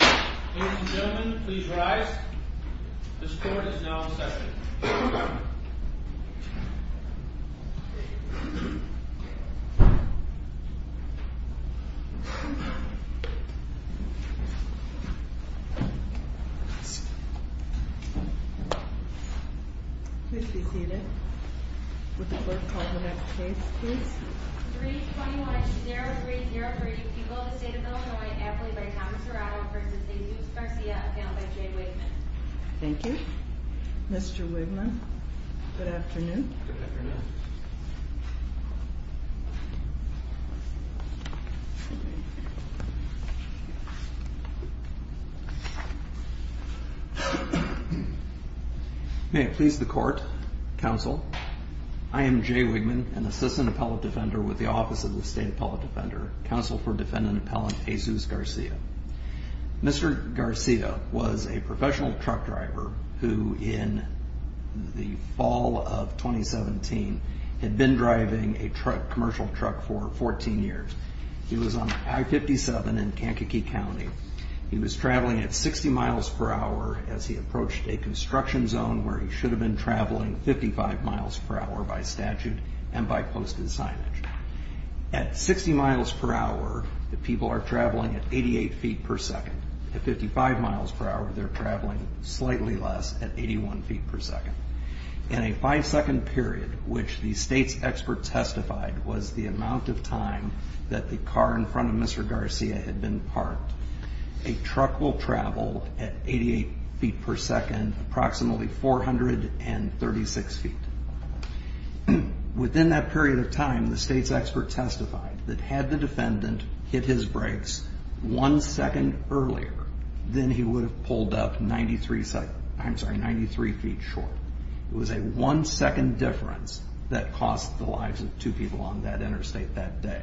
Ladies and gentlemen, please rise. This court is now in session. Please be seated. Would the clerk call the next case, please? 321-0303, people of the state of Illinois, affiliated by Thomas Serrato v. Jesus Garcia, appellate by Jay Wigman. Thank you, Mr. Wigman. Good afternoon. Good afternoon. May it please the court, counsel, I am Jay Wigman, an assistant appellate defender with the Office of the State Appellate Defender, counsel for defendant appellant Jesus Garcia. Mr. Garcia was a professional truck driver who in the fall of 2017 had been driving a commercial truck for 14 years. He was on I-57 in Kankakee County. He was traveling at 60 miles per hour as he approached a construction zone where he should have been traveling 55 miles per hour by statute and by posted signage. At 60 miles per hour, the people are traveling at 88 feet per second. At 55 miles per hour, they're traveling slightly less at 81 feet per second. In a five-second period, which the state's expert testified was the amount of time that the car in front of Mr. Garcia had been parked, a truck will travel at 88 feet per second, approximately 436 feet. Within that period of time, the state's expert testified that had the defendant hit his brakes one second earlier, then he would have pulled up 93 feet short. It was a one-second difference that cost the lives of two people on that interstate that day.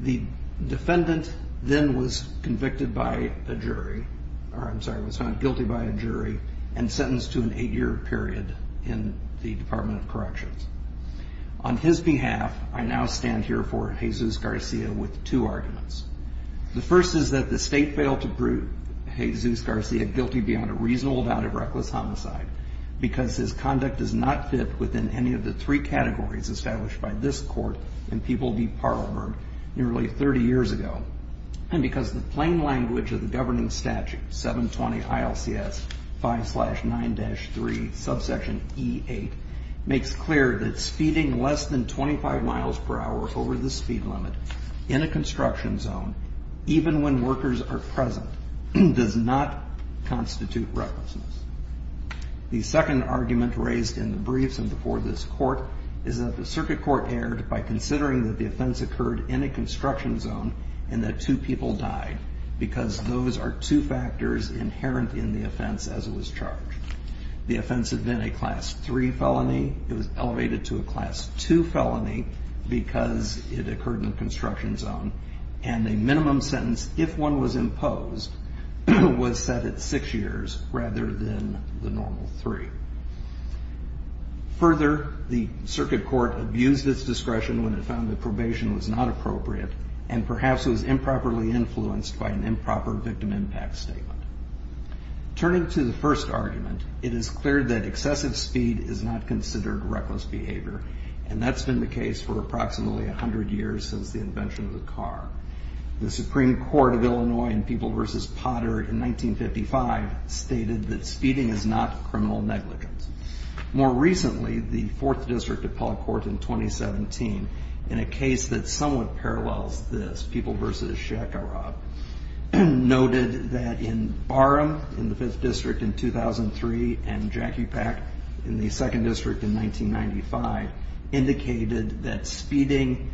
The defendant then was convicted by a jury, or I'm sorry, was found guilty by a jury and sentenced to an eight-year period in the Department of Corrections. On his behalf, I now stand here for Jesus Garcia with two arguments. The first is that the state failed to prove Jesus Garcia guilty beyond a reasonable doubt of reckless homicide because his conduct does not fit within any of the three categories established by this court in People v. Parlerburg nearly 30 years ago. And because the plain language of the governing statute, 720 ILCS 5-9-3, subsection E-8, makes clear that speeding less than 25 miles per hour over the speed limit in a construction zone, even when workers are present, does not constitute recklessness. The second argument raised in the briefs and before this court is that the circuit court erred by considering that the offense occurred in a construction zone and that two people died because those are two factors inherent in the offense as it was charged. The offense had been a Class III felony. It was elevated to a Class II felony because it occurred in a construction zone. And a minimum sentence, if one was imposed, was set at six years rather than the normal three. Further, the circuit court abused its discretion when it found that probation was not appropriate and perhaps was improperly influenced by an improper victim impact statement. Turning to the first argument, it is clear that excessive speed is not considered reckless behavior, and that's been the case for approximately 100 years since the invention of the car. The Supreme Court of Illinois in People v. Potter in 1955 stated that speeding is not criminal negligence. More recently, the 4th District Appellate Court in 2017, in a case that somewhat parallels this, People v. Shakarov, noted that in Barham in the 5th District in 2003 and Jackie Pack in the 2nd District in 1995, indicated that speeding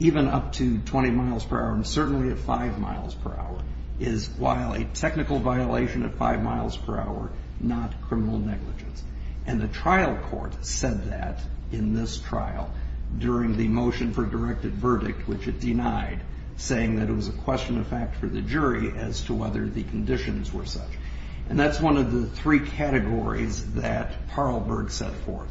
even up to 20 miles per hour and certainly at 5 miles per hour is, while a technical violation at 5 miles per hour, not criminal negligence. And the trial court said that in this trial during the motion for directed verdict, which it denied, saying that it was a question of fact for the jury as to whether the conditions were such. And that's one of the three categories that Parleberg set forth.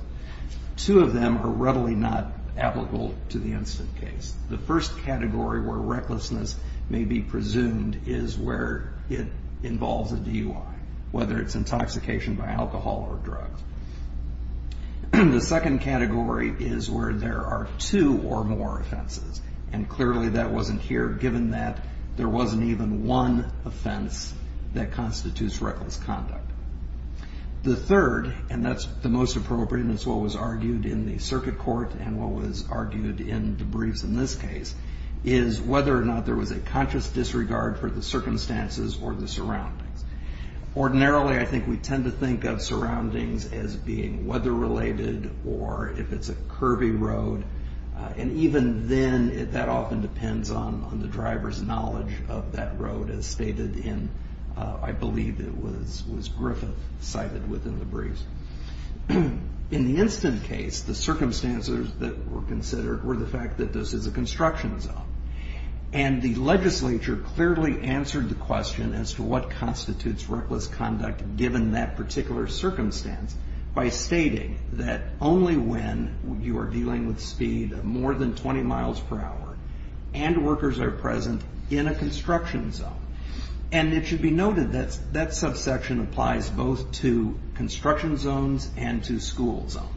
Two of them are readily not applicable to the instant case. The first category, where recklessness may be presumed, is where it involves a DUI, whether it's intoxication by alcohol or drugs. The second category is where there are two or more offenses. And clearly that wasn't here, given that there wasn't even one offense that constitutes reckless conduct. The third, and that's the most appropriate, and it's what was argued in the circuit court and what was argued in the briefs in this case, is whether or not there was a conscious disregard for the circumstances or the surroundings. Ordinarily, I think we tend to think of surroundings as being weather-related or if it's a curvy road. And even then, that often depends on the driver's knowledge of that road, as stated in, I believe it was Griffith, cited within the briefs. In the instant case, the circumstances that were considered were the fact that this is a construction zone. And the legislature clearly answered the question as to what constitutes reckless conduct, given that particular circumstance, by stating that only when you are dealing with speed of more than 20 miles per hour and workers are present in a construction zone. And it should be noted that that subsection applies both to construction zones and to school zones.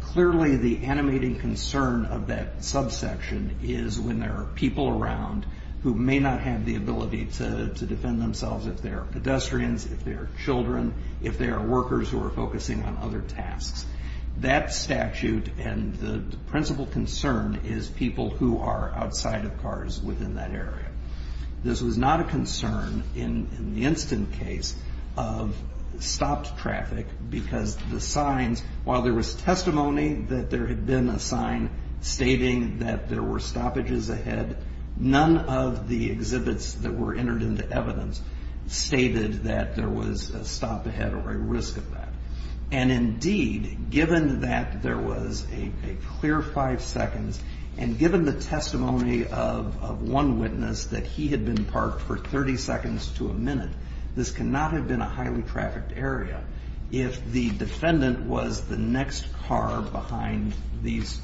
Clearly, the animating concern of that subsection is when there are people around who may not have the ability to defend themselves if there are pedestrians, if there are children, if there are workers who are focusing on other tasks. That statute and the principal concern is people who are outside of cars within that area. This was not a concern in the instant case of stopped traffic because the signs, while there was testimony that there had been a sign stating that there were stoppages ahead, none of the exhibits that were entered into evidence stated that there was a stop ahead or a risk of that. And indeed, given that there was a clear five seconds and given the testimony of one witness that he had been parked for 30 seconds to a minute, this cannot have been a highly trafficked area if the defendant was the next car behind this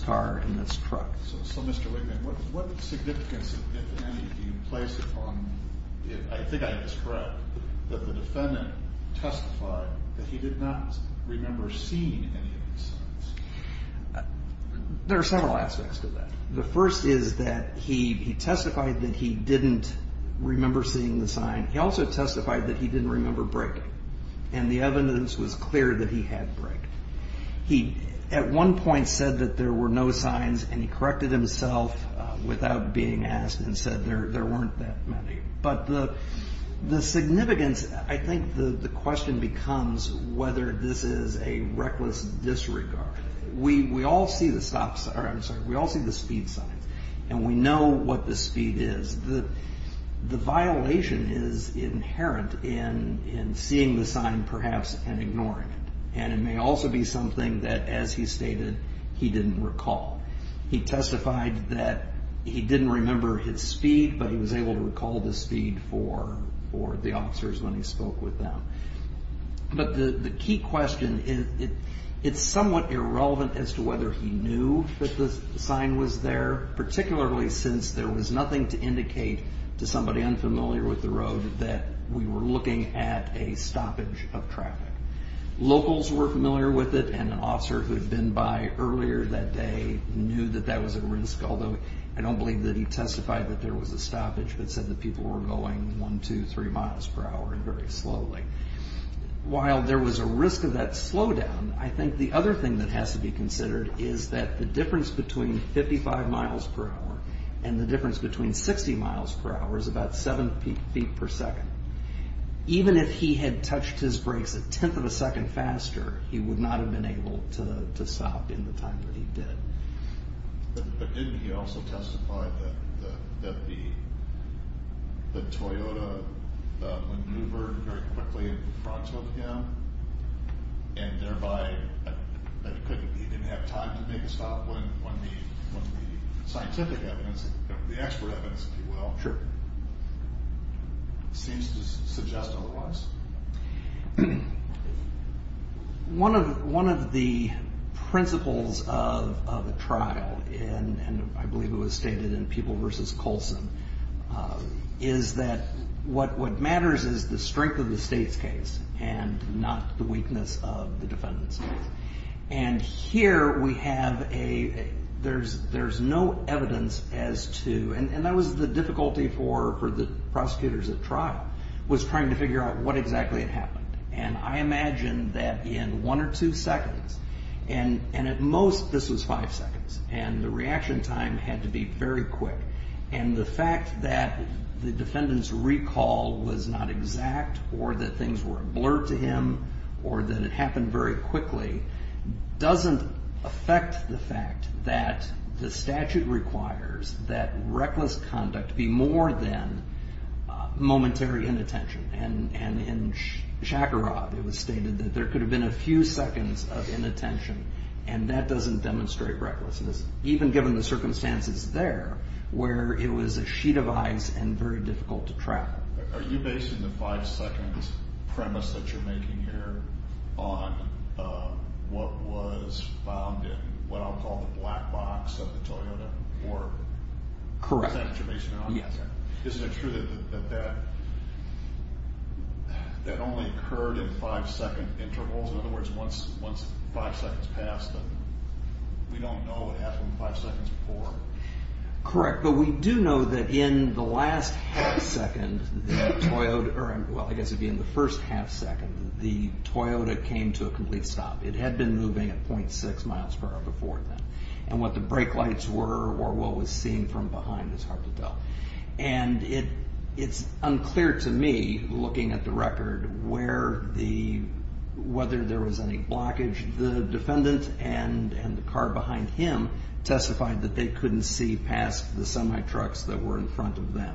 car and this truck. So, Mr. Wigman, what significance, if any, do you place upon, if I think I'm correct, that the defendant testified that he did not remember seeing any of the signs? There are several aspects to that. The first is that he testified that he didn't remember seeing the sign. He also testified that he didn't remember braking and the evidence was clear that he had braked. He, at one point, said that there were no signs and he corrected himself without being asked and said there weren't that many. But the significance, I think the question becomes whether this is a reckless disregard. We all see the speed signs and we know what the speed is. The violation is inherent in seeing the sign, perhaps, and ignoring it. And it may also be something that, as he stated, he didn't recall. He testified that he didn't remember his speed, but he was able to recall the speed for the officers when he spoke with them. But the key question is it's somewhat irrelevant as to whether he knew that the sign was there, particularly since there was nothing to indicate to somebody unfamiliar with the road that we were looking at a stoppage of traffic. Locals were familiar with it and an officer who had been by earlier that day knew that that was a risk, although I don't believe that he testified that there was a stoppage, but said that people were going one, two, three miles per hour and very slowly. While there was a risk of that slowdown, I think the other thing that has to be considered is that the difference between 55 miles per hour and the difference between 60 miles per hour is about seven feet per second. Even if he had touched his brakes a tenth of a second faster, he would not have been able to stop in the time that he did. But didn't he also testify that the Toyota maneuvered very quickly in front of him and thereby that he didn't have time to make a stop when the scientific evidence, the expert evidence, if you will, seems to suggest otherwise? One of the principles of the trial, and I believe it was stated in Peeble v. Colson, is that what matters is the strength of the state's case and not the weakness of the defendant's case. And here we have a, there's no evidence as to, and that was the difficulty for the prosecutors at trial, was trying to figure out what exactly had happened. And I imagine that in one or two seconds, and at most this was five seconds, and the reaction time had to be very quick, and the fact that the defendant's recall was not exact or that things were a blur to him or that it happened very quickly doesn't affect the fact that the statute requires that reckless conduct be more than momentary inattention. And in Shakarov it was stated that there could have been a few seconds of inattention, and that doesn't demonstrate recklessness, even given the circumstances there where it was a sheet of ice and very difficult to track. Are you basing the five-second premise that you're making here on what was found in what I'll call the black box of the Toyota? Correct. Is that what you're basing it on? Yes, sir. Isn't it true that that only occurred in five-second intervals? In other words, once five seconds passed, we don't know what happened five seconds before. Correct, but we do know that in the last half-second that Toyota, well, I guess it would be in the first half-second that the Toyota came to a complete stop. It had been moving at .6 miles per hour before then, and what the brake lights were or what was seen from behind is hard to tell. And it's unclear to me, looking at the record, whether there was any blockage. The defendant and the car behind him testified that they couldn't see past the semi-trucks that were in front of them.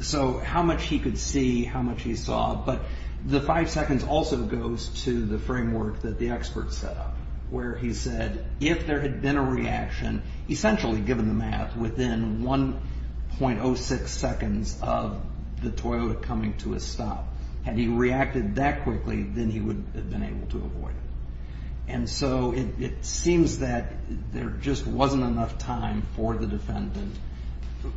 So how much he could see, how much he saw, but the five seconds also goes to the framework that the expert set up, where he said if there had been a reaction, essentially, given the math, within 1.06 seconds of the Toyota coming to a stop, had he reacted that quickly, then he would have been able to avoid it. And so it seems that there just wasn't enough time for the defendant.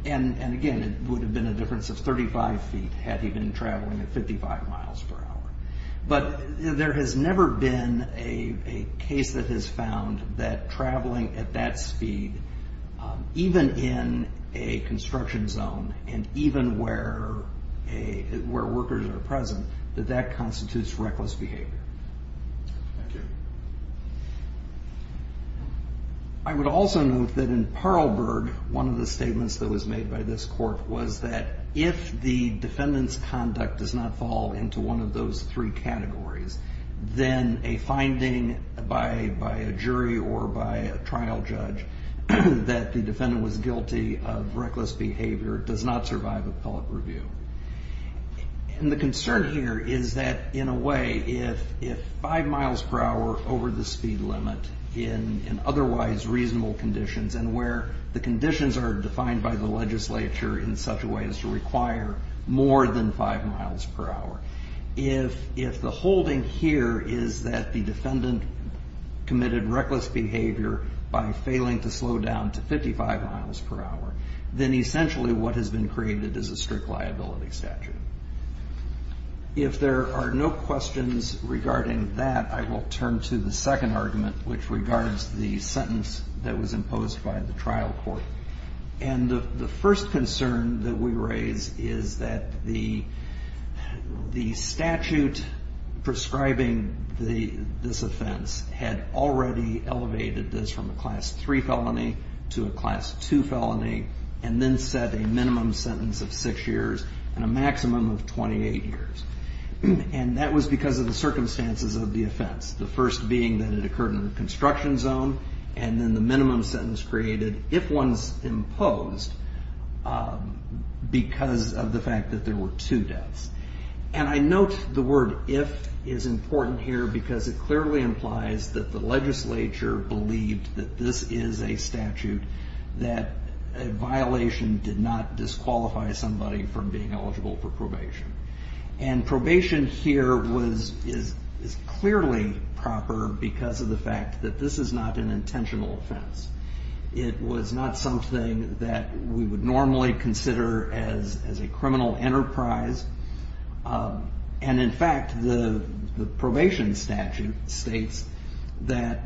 And again, it would have been a difference of 35 feet had he been traveling at 55 miles per hour. But there has never been a case that has found that traveling at that speed, even in a construction zone and even where workers are present, that that constitutes reckless behavior. Thank you. I would also note that in Parleberg, one of the statements that was made by this court was that if the defendant's conduct does not fall into one of those three categories, then a finding by a jury or by a trial judge that the defendant was guilty of reckless behavior does not survive appellate review. And the concern here is that, in a way, if five miles per hour over the speed limit in otherwise reasonable conditions, and where the conditions are defined by the legislature in such a way as to require more than five miles per hour, if the holding here is that the defendant committed reckless behavior by failing to slow down to 55 miles per hour, then essentially what has been created is a strict liability statute. If there are no questions regarding that, I will turn to the second argument, which regards the sentence that was imposed by the trial court. And the first concern that we raise is that the statute prescribing this offense had already elevated this from a Class III felony to a Class II felony, and then set a minimum sentence of six years and a maximum of 28 years. And that was because of the circumstances of the offense, the first being that it occurred in a construction zone, and then the minimum sentence created, if one's imposed, because of the fact that there were two deaths. And I note the word if is important here because it clearly implies that the legislature believed that this is a statute that a violation did not disqualify somebody from being eligible for probation. And probation here is clearly proper because of the fact that this is not an intentional offense. It was not something that we would normally consider as a criminal enterprise. And in fact, the probation statute states that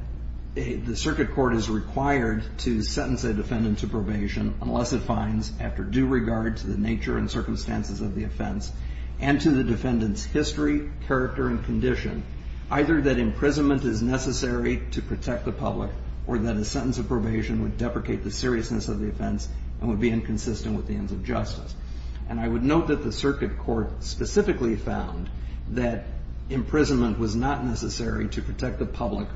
the circuit court is required to sentence a defendant to probation unless it finds, after due regard to the nature and circumstances of the offense and to the defendant's history, character, and condition, either that imprisonment is necessary to protect the public or that a sentence of probation would deprecate the seriousness of the offense and would be inconsistent with the ends of justice. And I would note that the circuit court specifically found that imprisonment was not necessary to protect the public,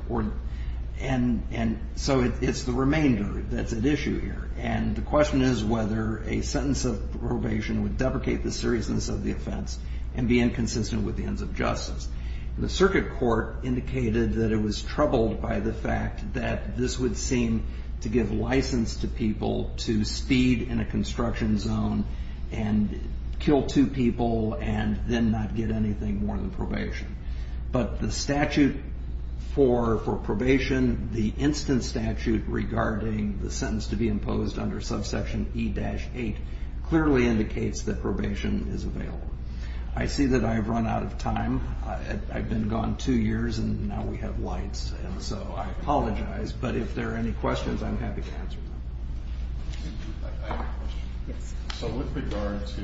and so it's the remainder that's at issue here. And the question is whether a sentence of probation would deprecate the seriousness of the offense and be inconsistent with the ends of justice. The circuit court indicated that it was troubled by the fact that this would seem to give license to people to speed in a construction zone and kill two people and then not get anything more than probation. But the statute for probation, the instant statute regarding the sentence to be imposed under subsection E-8, clearly indicates that probation is available. I see that I've run out of time. I've been gone two years, and now we have lights, and so I apologize. But if there are any questions, I'm happy to answer them. I have a question. Yes. So with regard to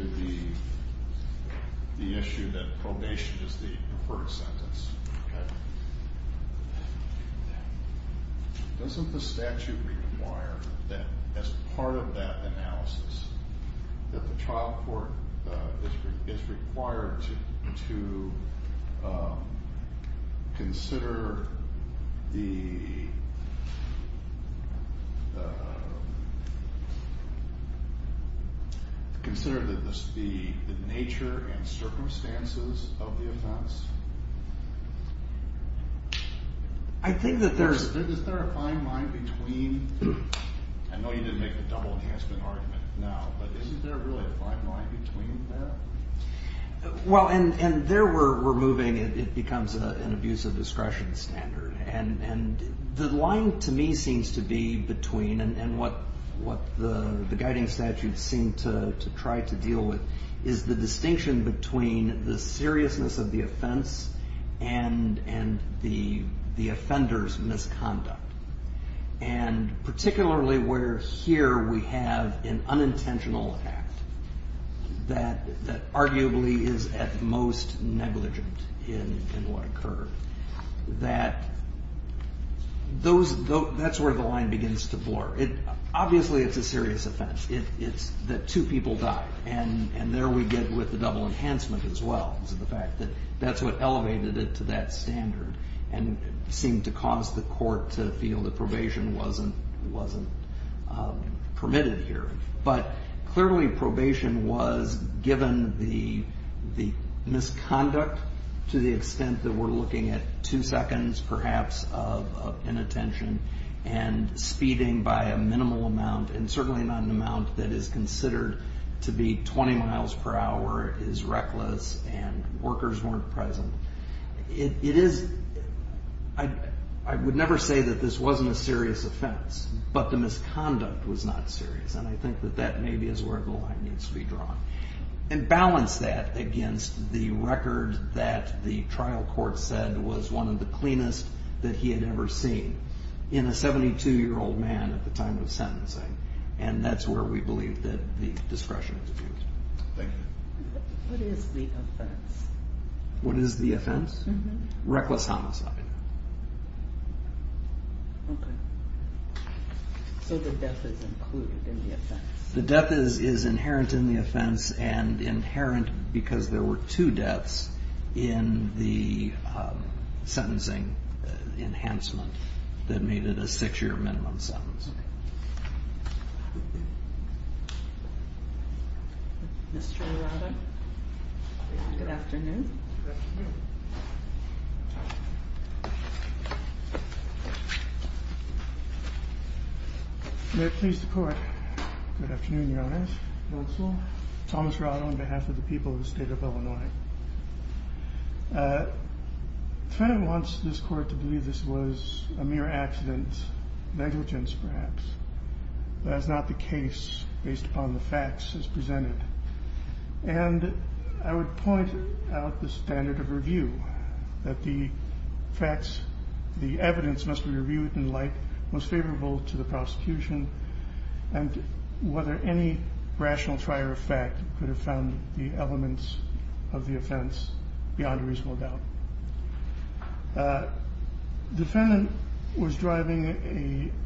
the issue that probation is the preferred sentence, doesn't the statute require that as part of that analysis, that the trial court is required to consider the nature and circumstances of the offense? Is there a fine line between? I know you didn't make the double enhancement argument now, but isn't there really a fine line between that? Well, and there we're moving. It becomes an abuse of discretion standard. And the line to me seems to be between, and what the guiding statutes seem to try to deal with, is the distinction between the seriousness of the offense and the offender's misconduct. And particularly where here we have an unintentional act that arguably is at most negligent in what occurred. That's where the line begins to blur. Obviously it's a serious offense. It's that two people died, and there we get with the double enhancement as well. Because of the fact that that's what elevated it to that standard. And seemed to cause the court to feel that probation wasn't permitted here. But clearly probation was given the misconduct to the extent that we're looking at two seconds, perhaps, of inattention. And speeding by a minimal amount, and certainly not an amount that is considered to be 20 miles per hour, is reckless and workers weren't present. It is, I would never say that this wasn't a serious offense. But the misconduct was not serious. And I think that that maybe is where the line needs to be drawn. And balance that against the record that the trial court said was one of the cleanest that he had ever seen. In a 72-year-old man at the time of sentencing. And that's where we believe that the discretion is abused. Thank you. What is the offense? What is the offense? Reckless homicide. Okay. So the death is included in the offense. The death is inherent in the offense. And inherent because there were two deaths in the sentencing enhancement that made it a six-year minimum sentence. Okay. Mr. Arado. Good afternoon. Good afternoon. Good afternoon, Your Honor. Thomas Arado on behalf of the people of the state of Illinois. The defendant wants this court to believe this was a mere accident, negligence perhaps. That it's not the case based upon the facts as presented. And I would point out the standard of review. That the facts, the evidence must be reviewed in light most favorable to the prosecution. And whether any rational trier of fact could have found the elements of the offense beyond a reasonable doubt. The defendant was driving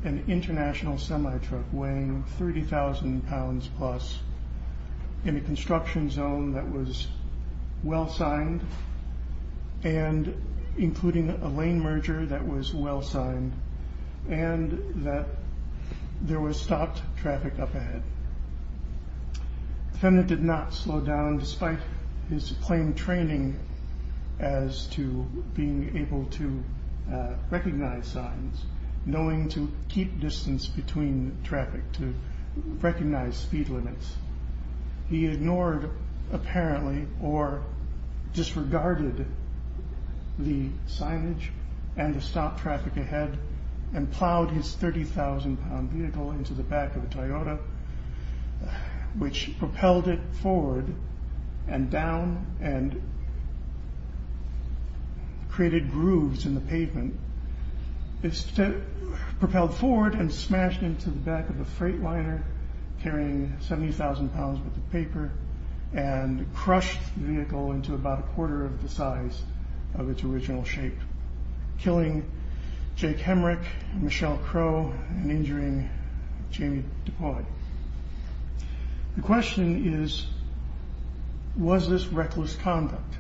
an international semi-truck weighing 30,000 pounds plus. In a construction zone that was well signed. And including a lane merger that was well signed. And that there was stopped traffic up ahead. The defendant did not slow down despite his plain training as to being able to recognize signs. Knowing to keep distance between traffic to recognize speed limits. He ignored apparently or disregarded the signage and the stop traffic ahead. And plowed his 30,000 pound vehicle into the back of a Toyota. Which propelled it forward and down. And created grooves in the pavement. It propelled forward and smashed into the back of a freight liner. Carrying 70,000 pounds worth of paper. And crushed the vehicle into about a quarter of the size of its original shape. Killing Jake Hemrick, Michelle Crow and injuring Jamie DuPont. The question is, was this reckless conduct?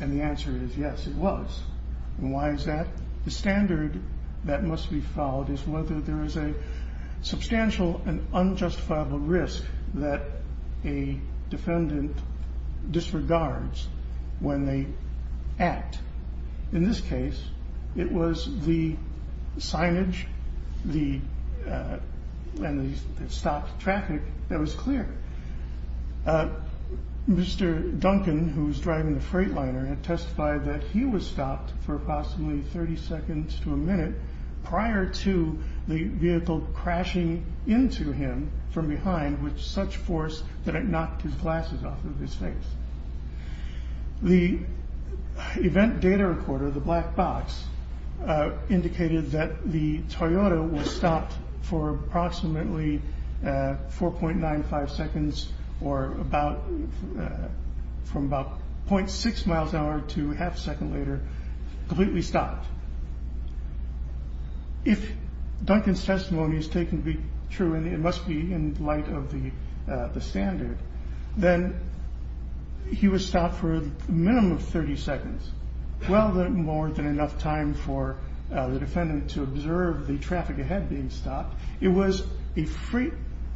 And the answer is yes it was. And why is that? The standard that must be followed is whether there is a substantial and unjustifiable risk. That a defendant disregards when they act. In this case it was the signage and the stopped traffic that was clear. Mr. Duncan who was driving the freight liner had testified that he was stopped for approximately 30 seconds to a minute. Prior to the vehicle crashing into him from behind with such force that it knocked his glasses off of his face. The event data recorder, the black box, indicated that the Toyota was stopped for approximately 4.95 seconds. Or from about .6 miles an hour to half a second later completely stopped. If Duncan's testimony is taken to be true and it must be in light of the standard. Then he was stopped for a minimum of 30 seconds. Well more than enough time for the defendant to observe the traffic ahead being stopped. It was a freight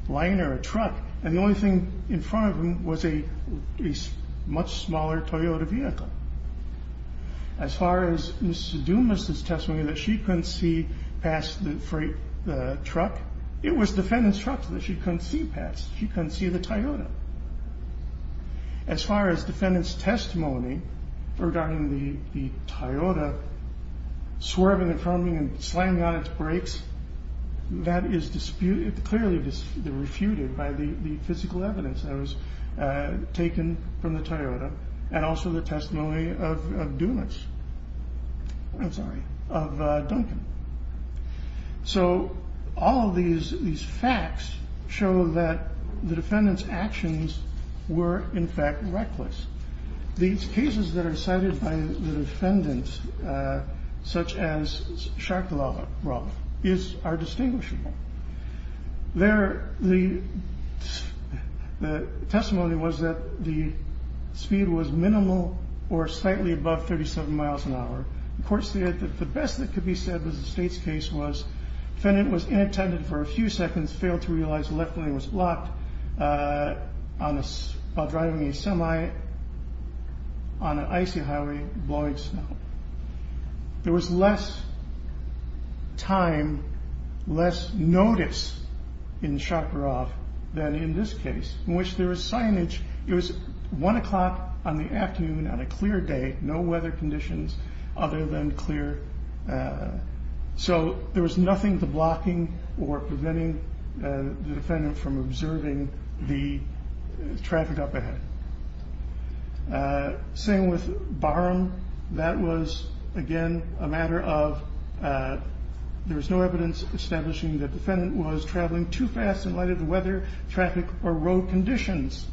liner, a truck and the only thing in front of him was a much smaller Toyota vehicle. As far as Mr. Dumas' testimony that she couldn't see past the truck. It was the defendant's truck that she couldn't see past, she couldn't see the Toyota. As far as the defendant's testimony regarding the Toyota swerving and slamming on its brakes. That is clearly refuted by the physical evidence that was taken from the Toyota. And also the testimony of Duncan. So all of these facts show that the defendant's actions were in fact reckless. These cases that are cited by the defendants such as Shark Lava are distinguishable. The testimony was that the speed was minimal or slightly above 37 miles an hour. The court stated that the best that could be said was the state's case was the defendant was inattentive for a few seconds. Failed to realize the left lane was blocked while driving a semi on an icy highway and blowing snow. There was less time, less notice in Shark Lava than in this case. It was 1 o'clock in the afternoon on a clear day, no weather conditions other than clear. So there was nothing to blocking or preventing the defendant from observing the traffic up ahead. Same with Barham. That was again a matter of there was no evidence establishing the defendant was traveling too fast in light of the weather, traffic, or road conditions.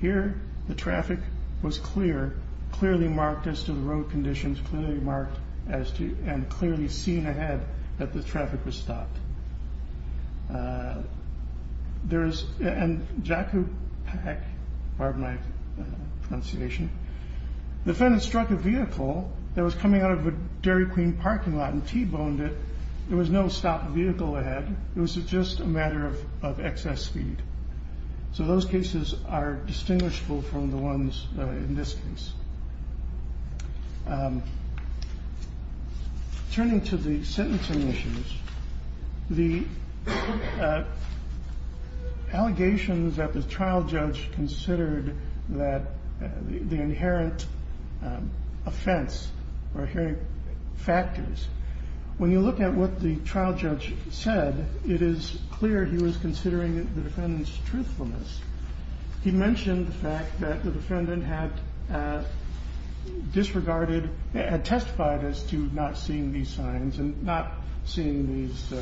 Here the traffic was clear, clearly marked as to the road conditions, clearly marked as to and clearly seen ahead that the traffic was stopped. And Jakupak, pardon my pronunciation. The defendant struck a vehicle that was coming out of a Dairy Queen parking lot and T-boned it. There was no stopped vehicle ahead. It was just a matter of excess speed. So those cases are distinguishable from the ones in this case. Now, turning to the sentencing issues, the allegations that the trial judge considered that the inherent offense or inherent factors. When you look at what the trial judge said, it is clear he was considering the defendant's truthfulness. He mentioned the fact that the defendant had disregarded, had testified as to not seeing these signs and not seeing these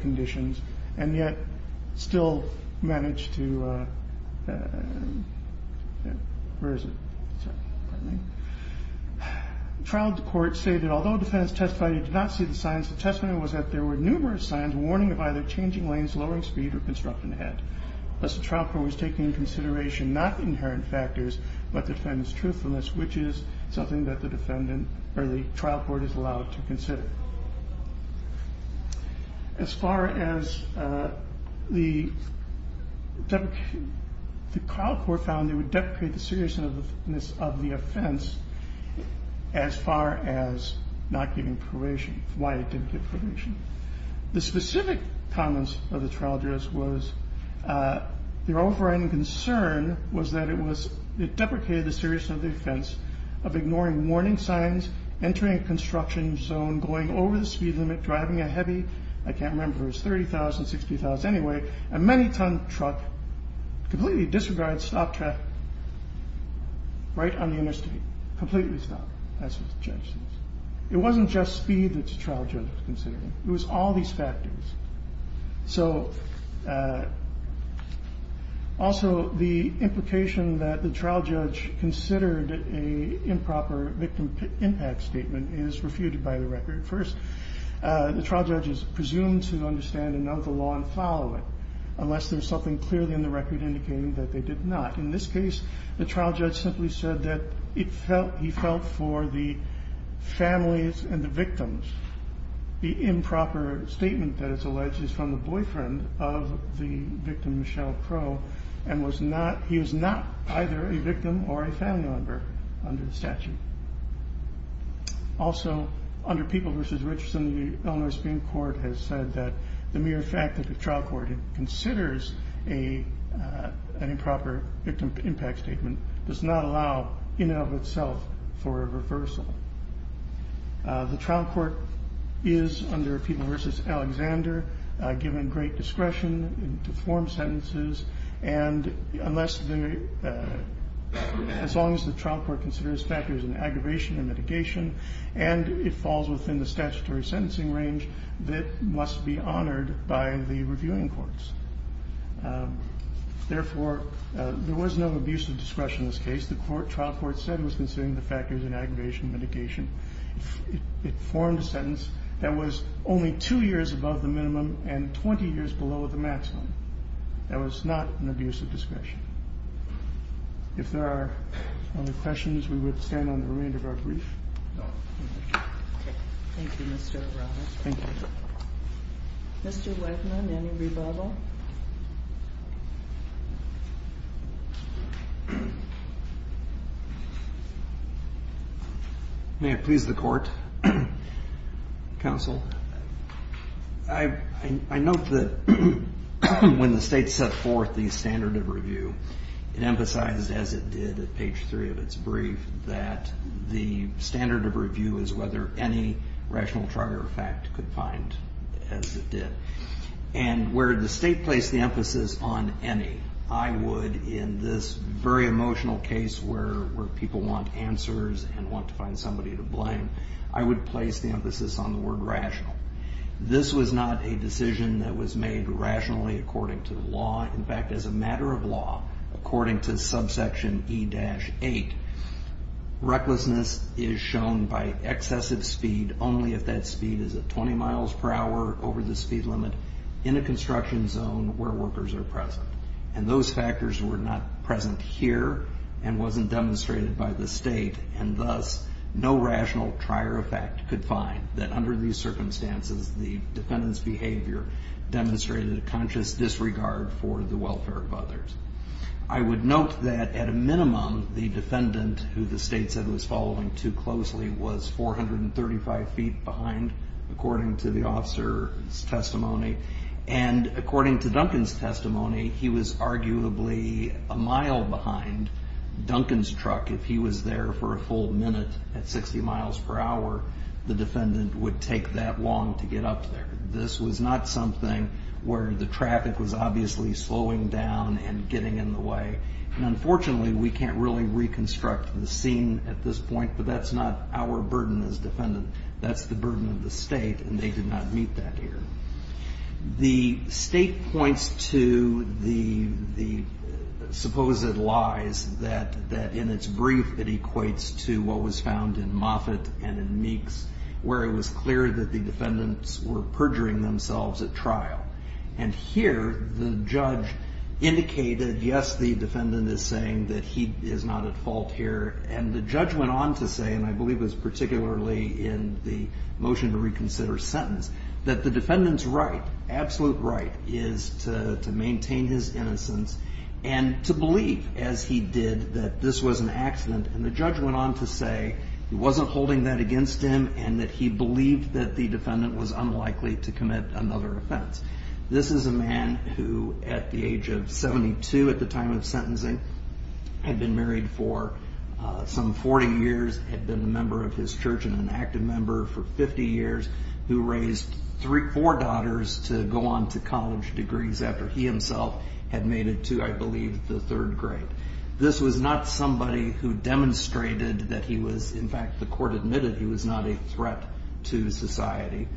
conditions, and yet still managed to. Where is it? Trial court stated, although defense testified he did not see the signs, the testimony was that there were numerous signs warning of either changing lanes, lowering speed or constructing ahead. Thus, the trial court was taking into consideration not the inherent factors, but the defendant's truthfulness, which is something that the defendant or the trial court is allowed to consider. As far as the trial court found, they would deprecate the seriousness of the offense as far as not giving probation, why it didn't give probation. The specific comments of the trial judge was, their overriding concern was that it deprecated the seriousness of the offense of ignoring warning signs, entering a construction zone, going over the speed limit, driving a heavy, I can't remember if it was 30,000 or 60,000 anyway, a many ton truck, completely disregarded stop traffic, right on the interstate, completely stopped. It wasn't just speed that the trial judge was considering. It was all these factors. Also, the implication that the trial judge considered an improper victim impact statement is refuted by the record. First, the trial judge is presumed to understand and know the law and follow it, unless there's something clearly in the record indicating that they did not. In this case, the trial judge simply said that he felt for the families and the victims. The improper statement that is alleged is from the boyfriend of the victim, Michelle Crow, and he was not either a victim or a family member under the statute. Also, under People v. Richardson, the Illinois Supreme Court has said that the mere fact that the trial court considers an improper victim impact statement does not allow, in and of itself, for a reversal. The trial court is, under People v. Alexander, given great discretion to form sentences, and as long as the trial court considers factors in aggravation and mitigation and it falls within the statutory sentencing range, it must be honored by the reviewing courts. Therefore, there was no abuse of discretion in this case. The trial court said it was considering the factors in aggravation and mitigation. It formed a sentence that was only two years above the minimum and 20 years below the maximum. That was not an abuse of discretion. If there are no other questions, we would stand on the remainder of our brief. Thank you, Mr. O'Rourke. Thank you. Mr. Wegman, any rebuttal? May it please the Court, Counsel? I note that when the State set forth the standard of review, it emphasized, as it did at page 3 of its brief, that the standard of review is whether any rational trial or fact could find, as it did. And where the State placed the emphasis on any, I would, in this very emotional case where people want answers and want to find somebody to blame, I would place the emphasis on the word rational. This was not a decision that was made rationally according to the law. In fact, as a matter of law, according to subsection E-8, recklessness is shown by excessive speed only if that speed is at 20 miles per hour over the speed limit in a construction zone where workers are present. And those factors were not present here and wasn't demonstrated by the State, and thus no rational trial or fact could find that under these circumstances the defendant's behavior demonstrated a conscious disregard for the welfare of others. I would note that at a minimum, the defendant, who the State said was following too closely, was 435 feet behind according to the officer's testimony. And according to Duncan's testimony, he was arguably a mile behind Duncan's truck if he was there for a full minute at 60 miles per hour. The defendant would take that long to get up there. This was not something where the traffic was obviously slowing down and getting in the way. And unfortunately, we can't really reconstruct the scene at this point, but that's not our burden as defendants. That's the burden of the State, and they did not meet that here. The State points to the supposed lies that, in its brief, it equates to what was found in Moffitt and in Meeks, where it was clear that the defendants were perjuring themselves at trial. And here the judge indicated, yes, the defendant is saying that he is not at fault here. And the judge went on to say, and I believe it was particularly in the motion to reconsider sentence, that the defendant's right, absolute right, is to maintain his innocence and to believe, as he did, that this was an accident. And the judge went on to say he wasn't holding that against him and that he believed that the defendant was unlikely to commit another offense. This is a man who, at the age of 72 at the time of sentencing, had been married for some 40 years, had been a member of his church and an active member for 50 years, who raised four daughters to go on to college degrees after he himself had made it to, I believe, the third grade. This was not somebody who demonstrated that he was, in fact, the court admitted he was not a threat to society.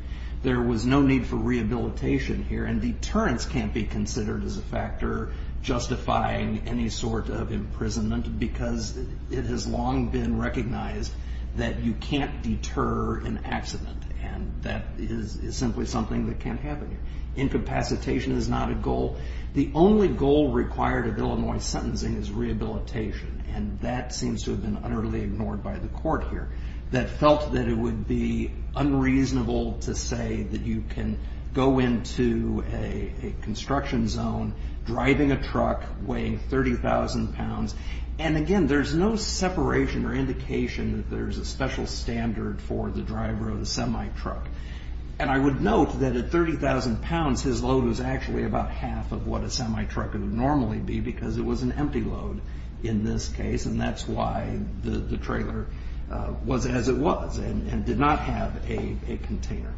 There was no need for rehabilitation here, and deterrence can't be considered as a factor justifying any sort of imprisonment because it has long been recognized that you can't deter an accident. And that is simply something that can't happen here. Incapacitation is not a goal. The only goal required of Illinois sentencing is rehabilitation, and that seems to have been utterly ignored by the court here. That felt that it would be unreasonable to say that you can go into a construction zone, driving a truck, weighing 30,000 pounds, and again, there's no separation or indication that there's a special standard for the driver of the semi-truck. And I would note that at 30,000 pounds, his load was actually about half of what a semi-truck would normally be because it was an empty load in this case, and that's why the trailer was as it was and did not have a container.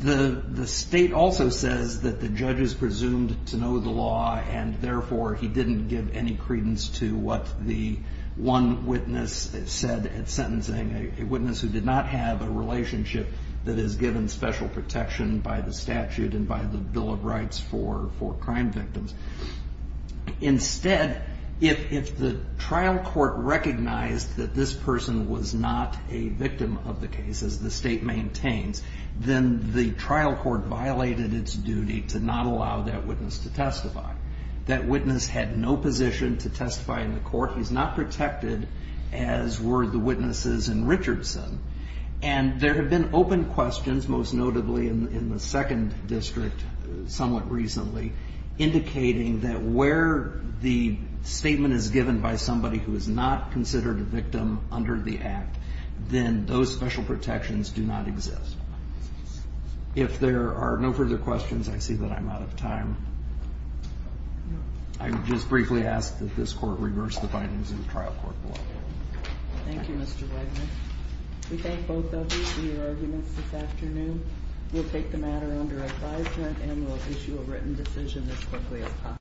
The state also says that the judge is presumed to know the law, and therefore he didn't give any credence to what the one witness said at sentencing, a witness who did not have a relationship that is given special protection by the statute and by the Bill of Rights for crime victims. Instead, if the trial court recognized that this person was not a victim of the case, as the state maintains, then the trial court violated its duty to not allow that witness to testify. That witness had no position to testify in the court. He's not protected, as were the witnesses in Richardson. And there have been open questions, most notably in the second district somewhat recently, indicating that where the statement is given by somebody who is not considered a victim under the act, then those special protections do not exist. If there are no further questions, I see that I'm out of time. I would just briefly ask that this court reverse the findings in the trial court. Thank you, Mr. Wagner. We thank both of you for your arguments this afternoon. We'll take the matter under advisement and we'll issue a written decision as quickly as possible.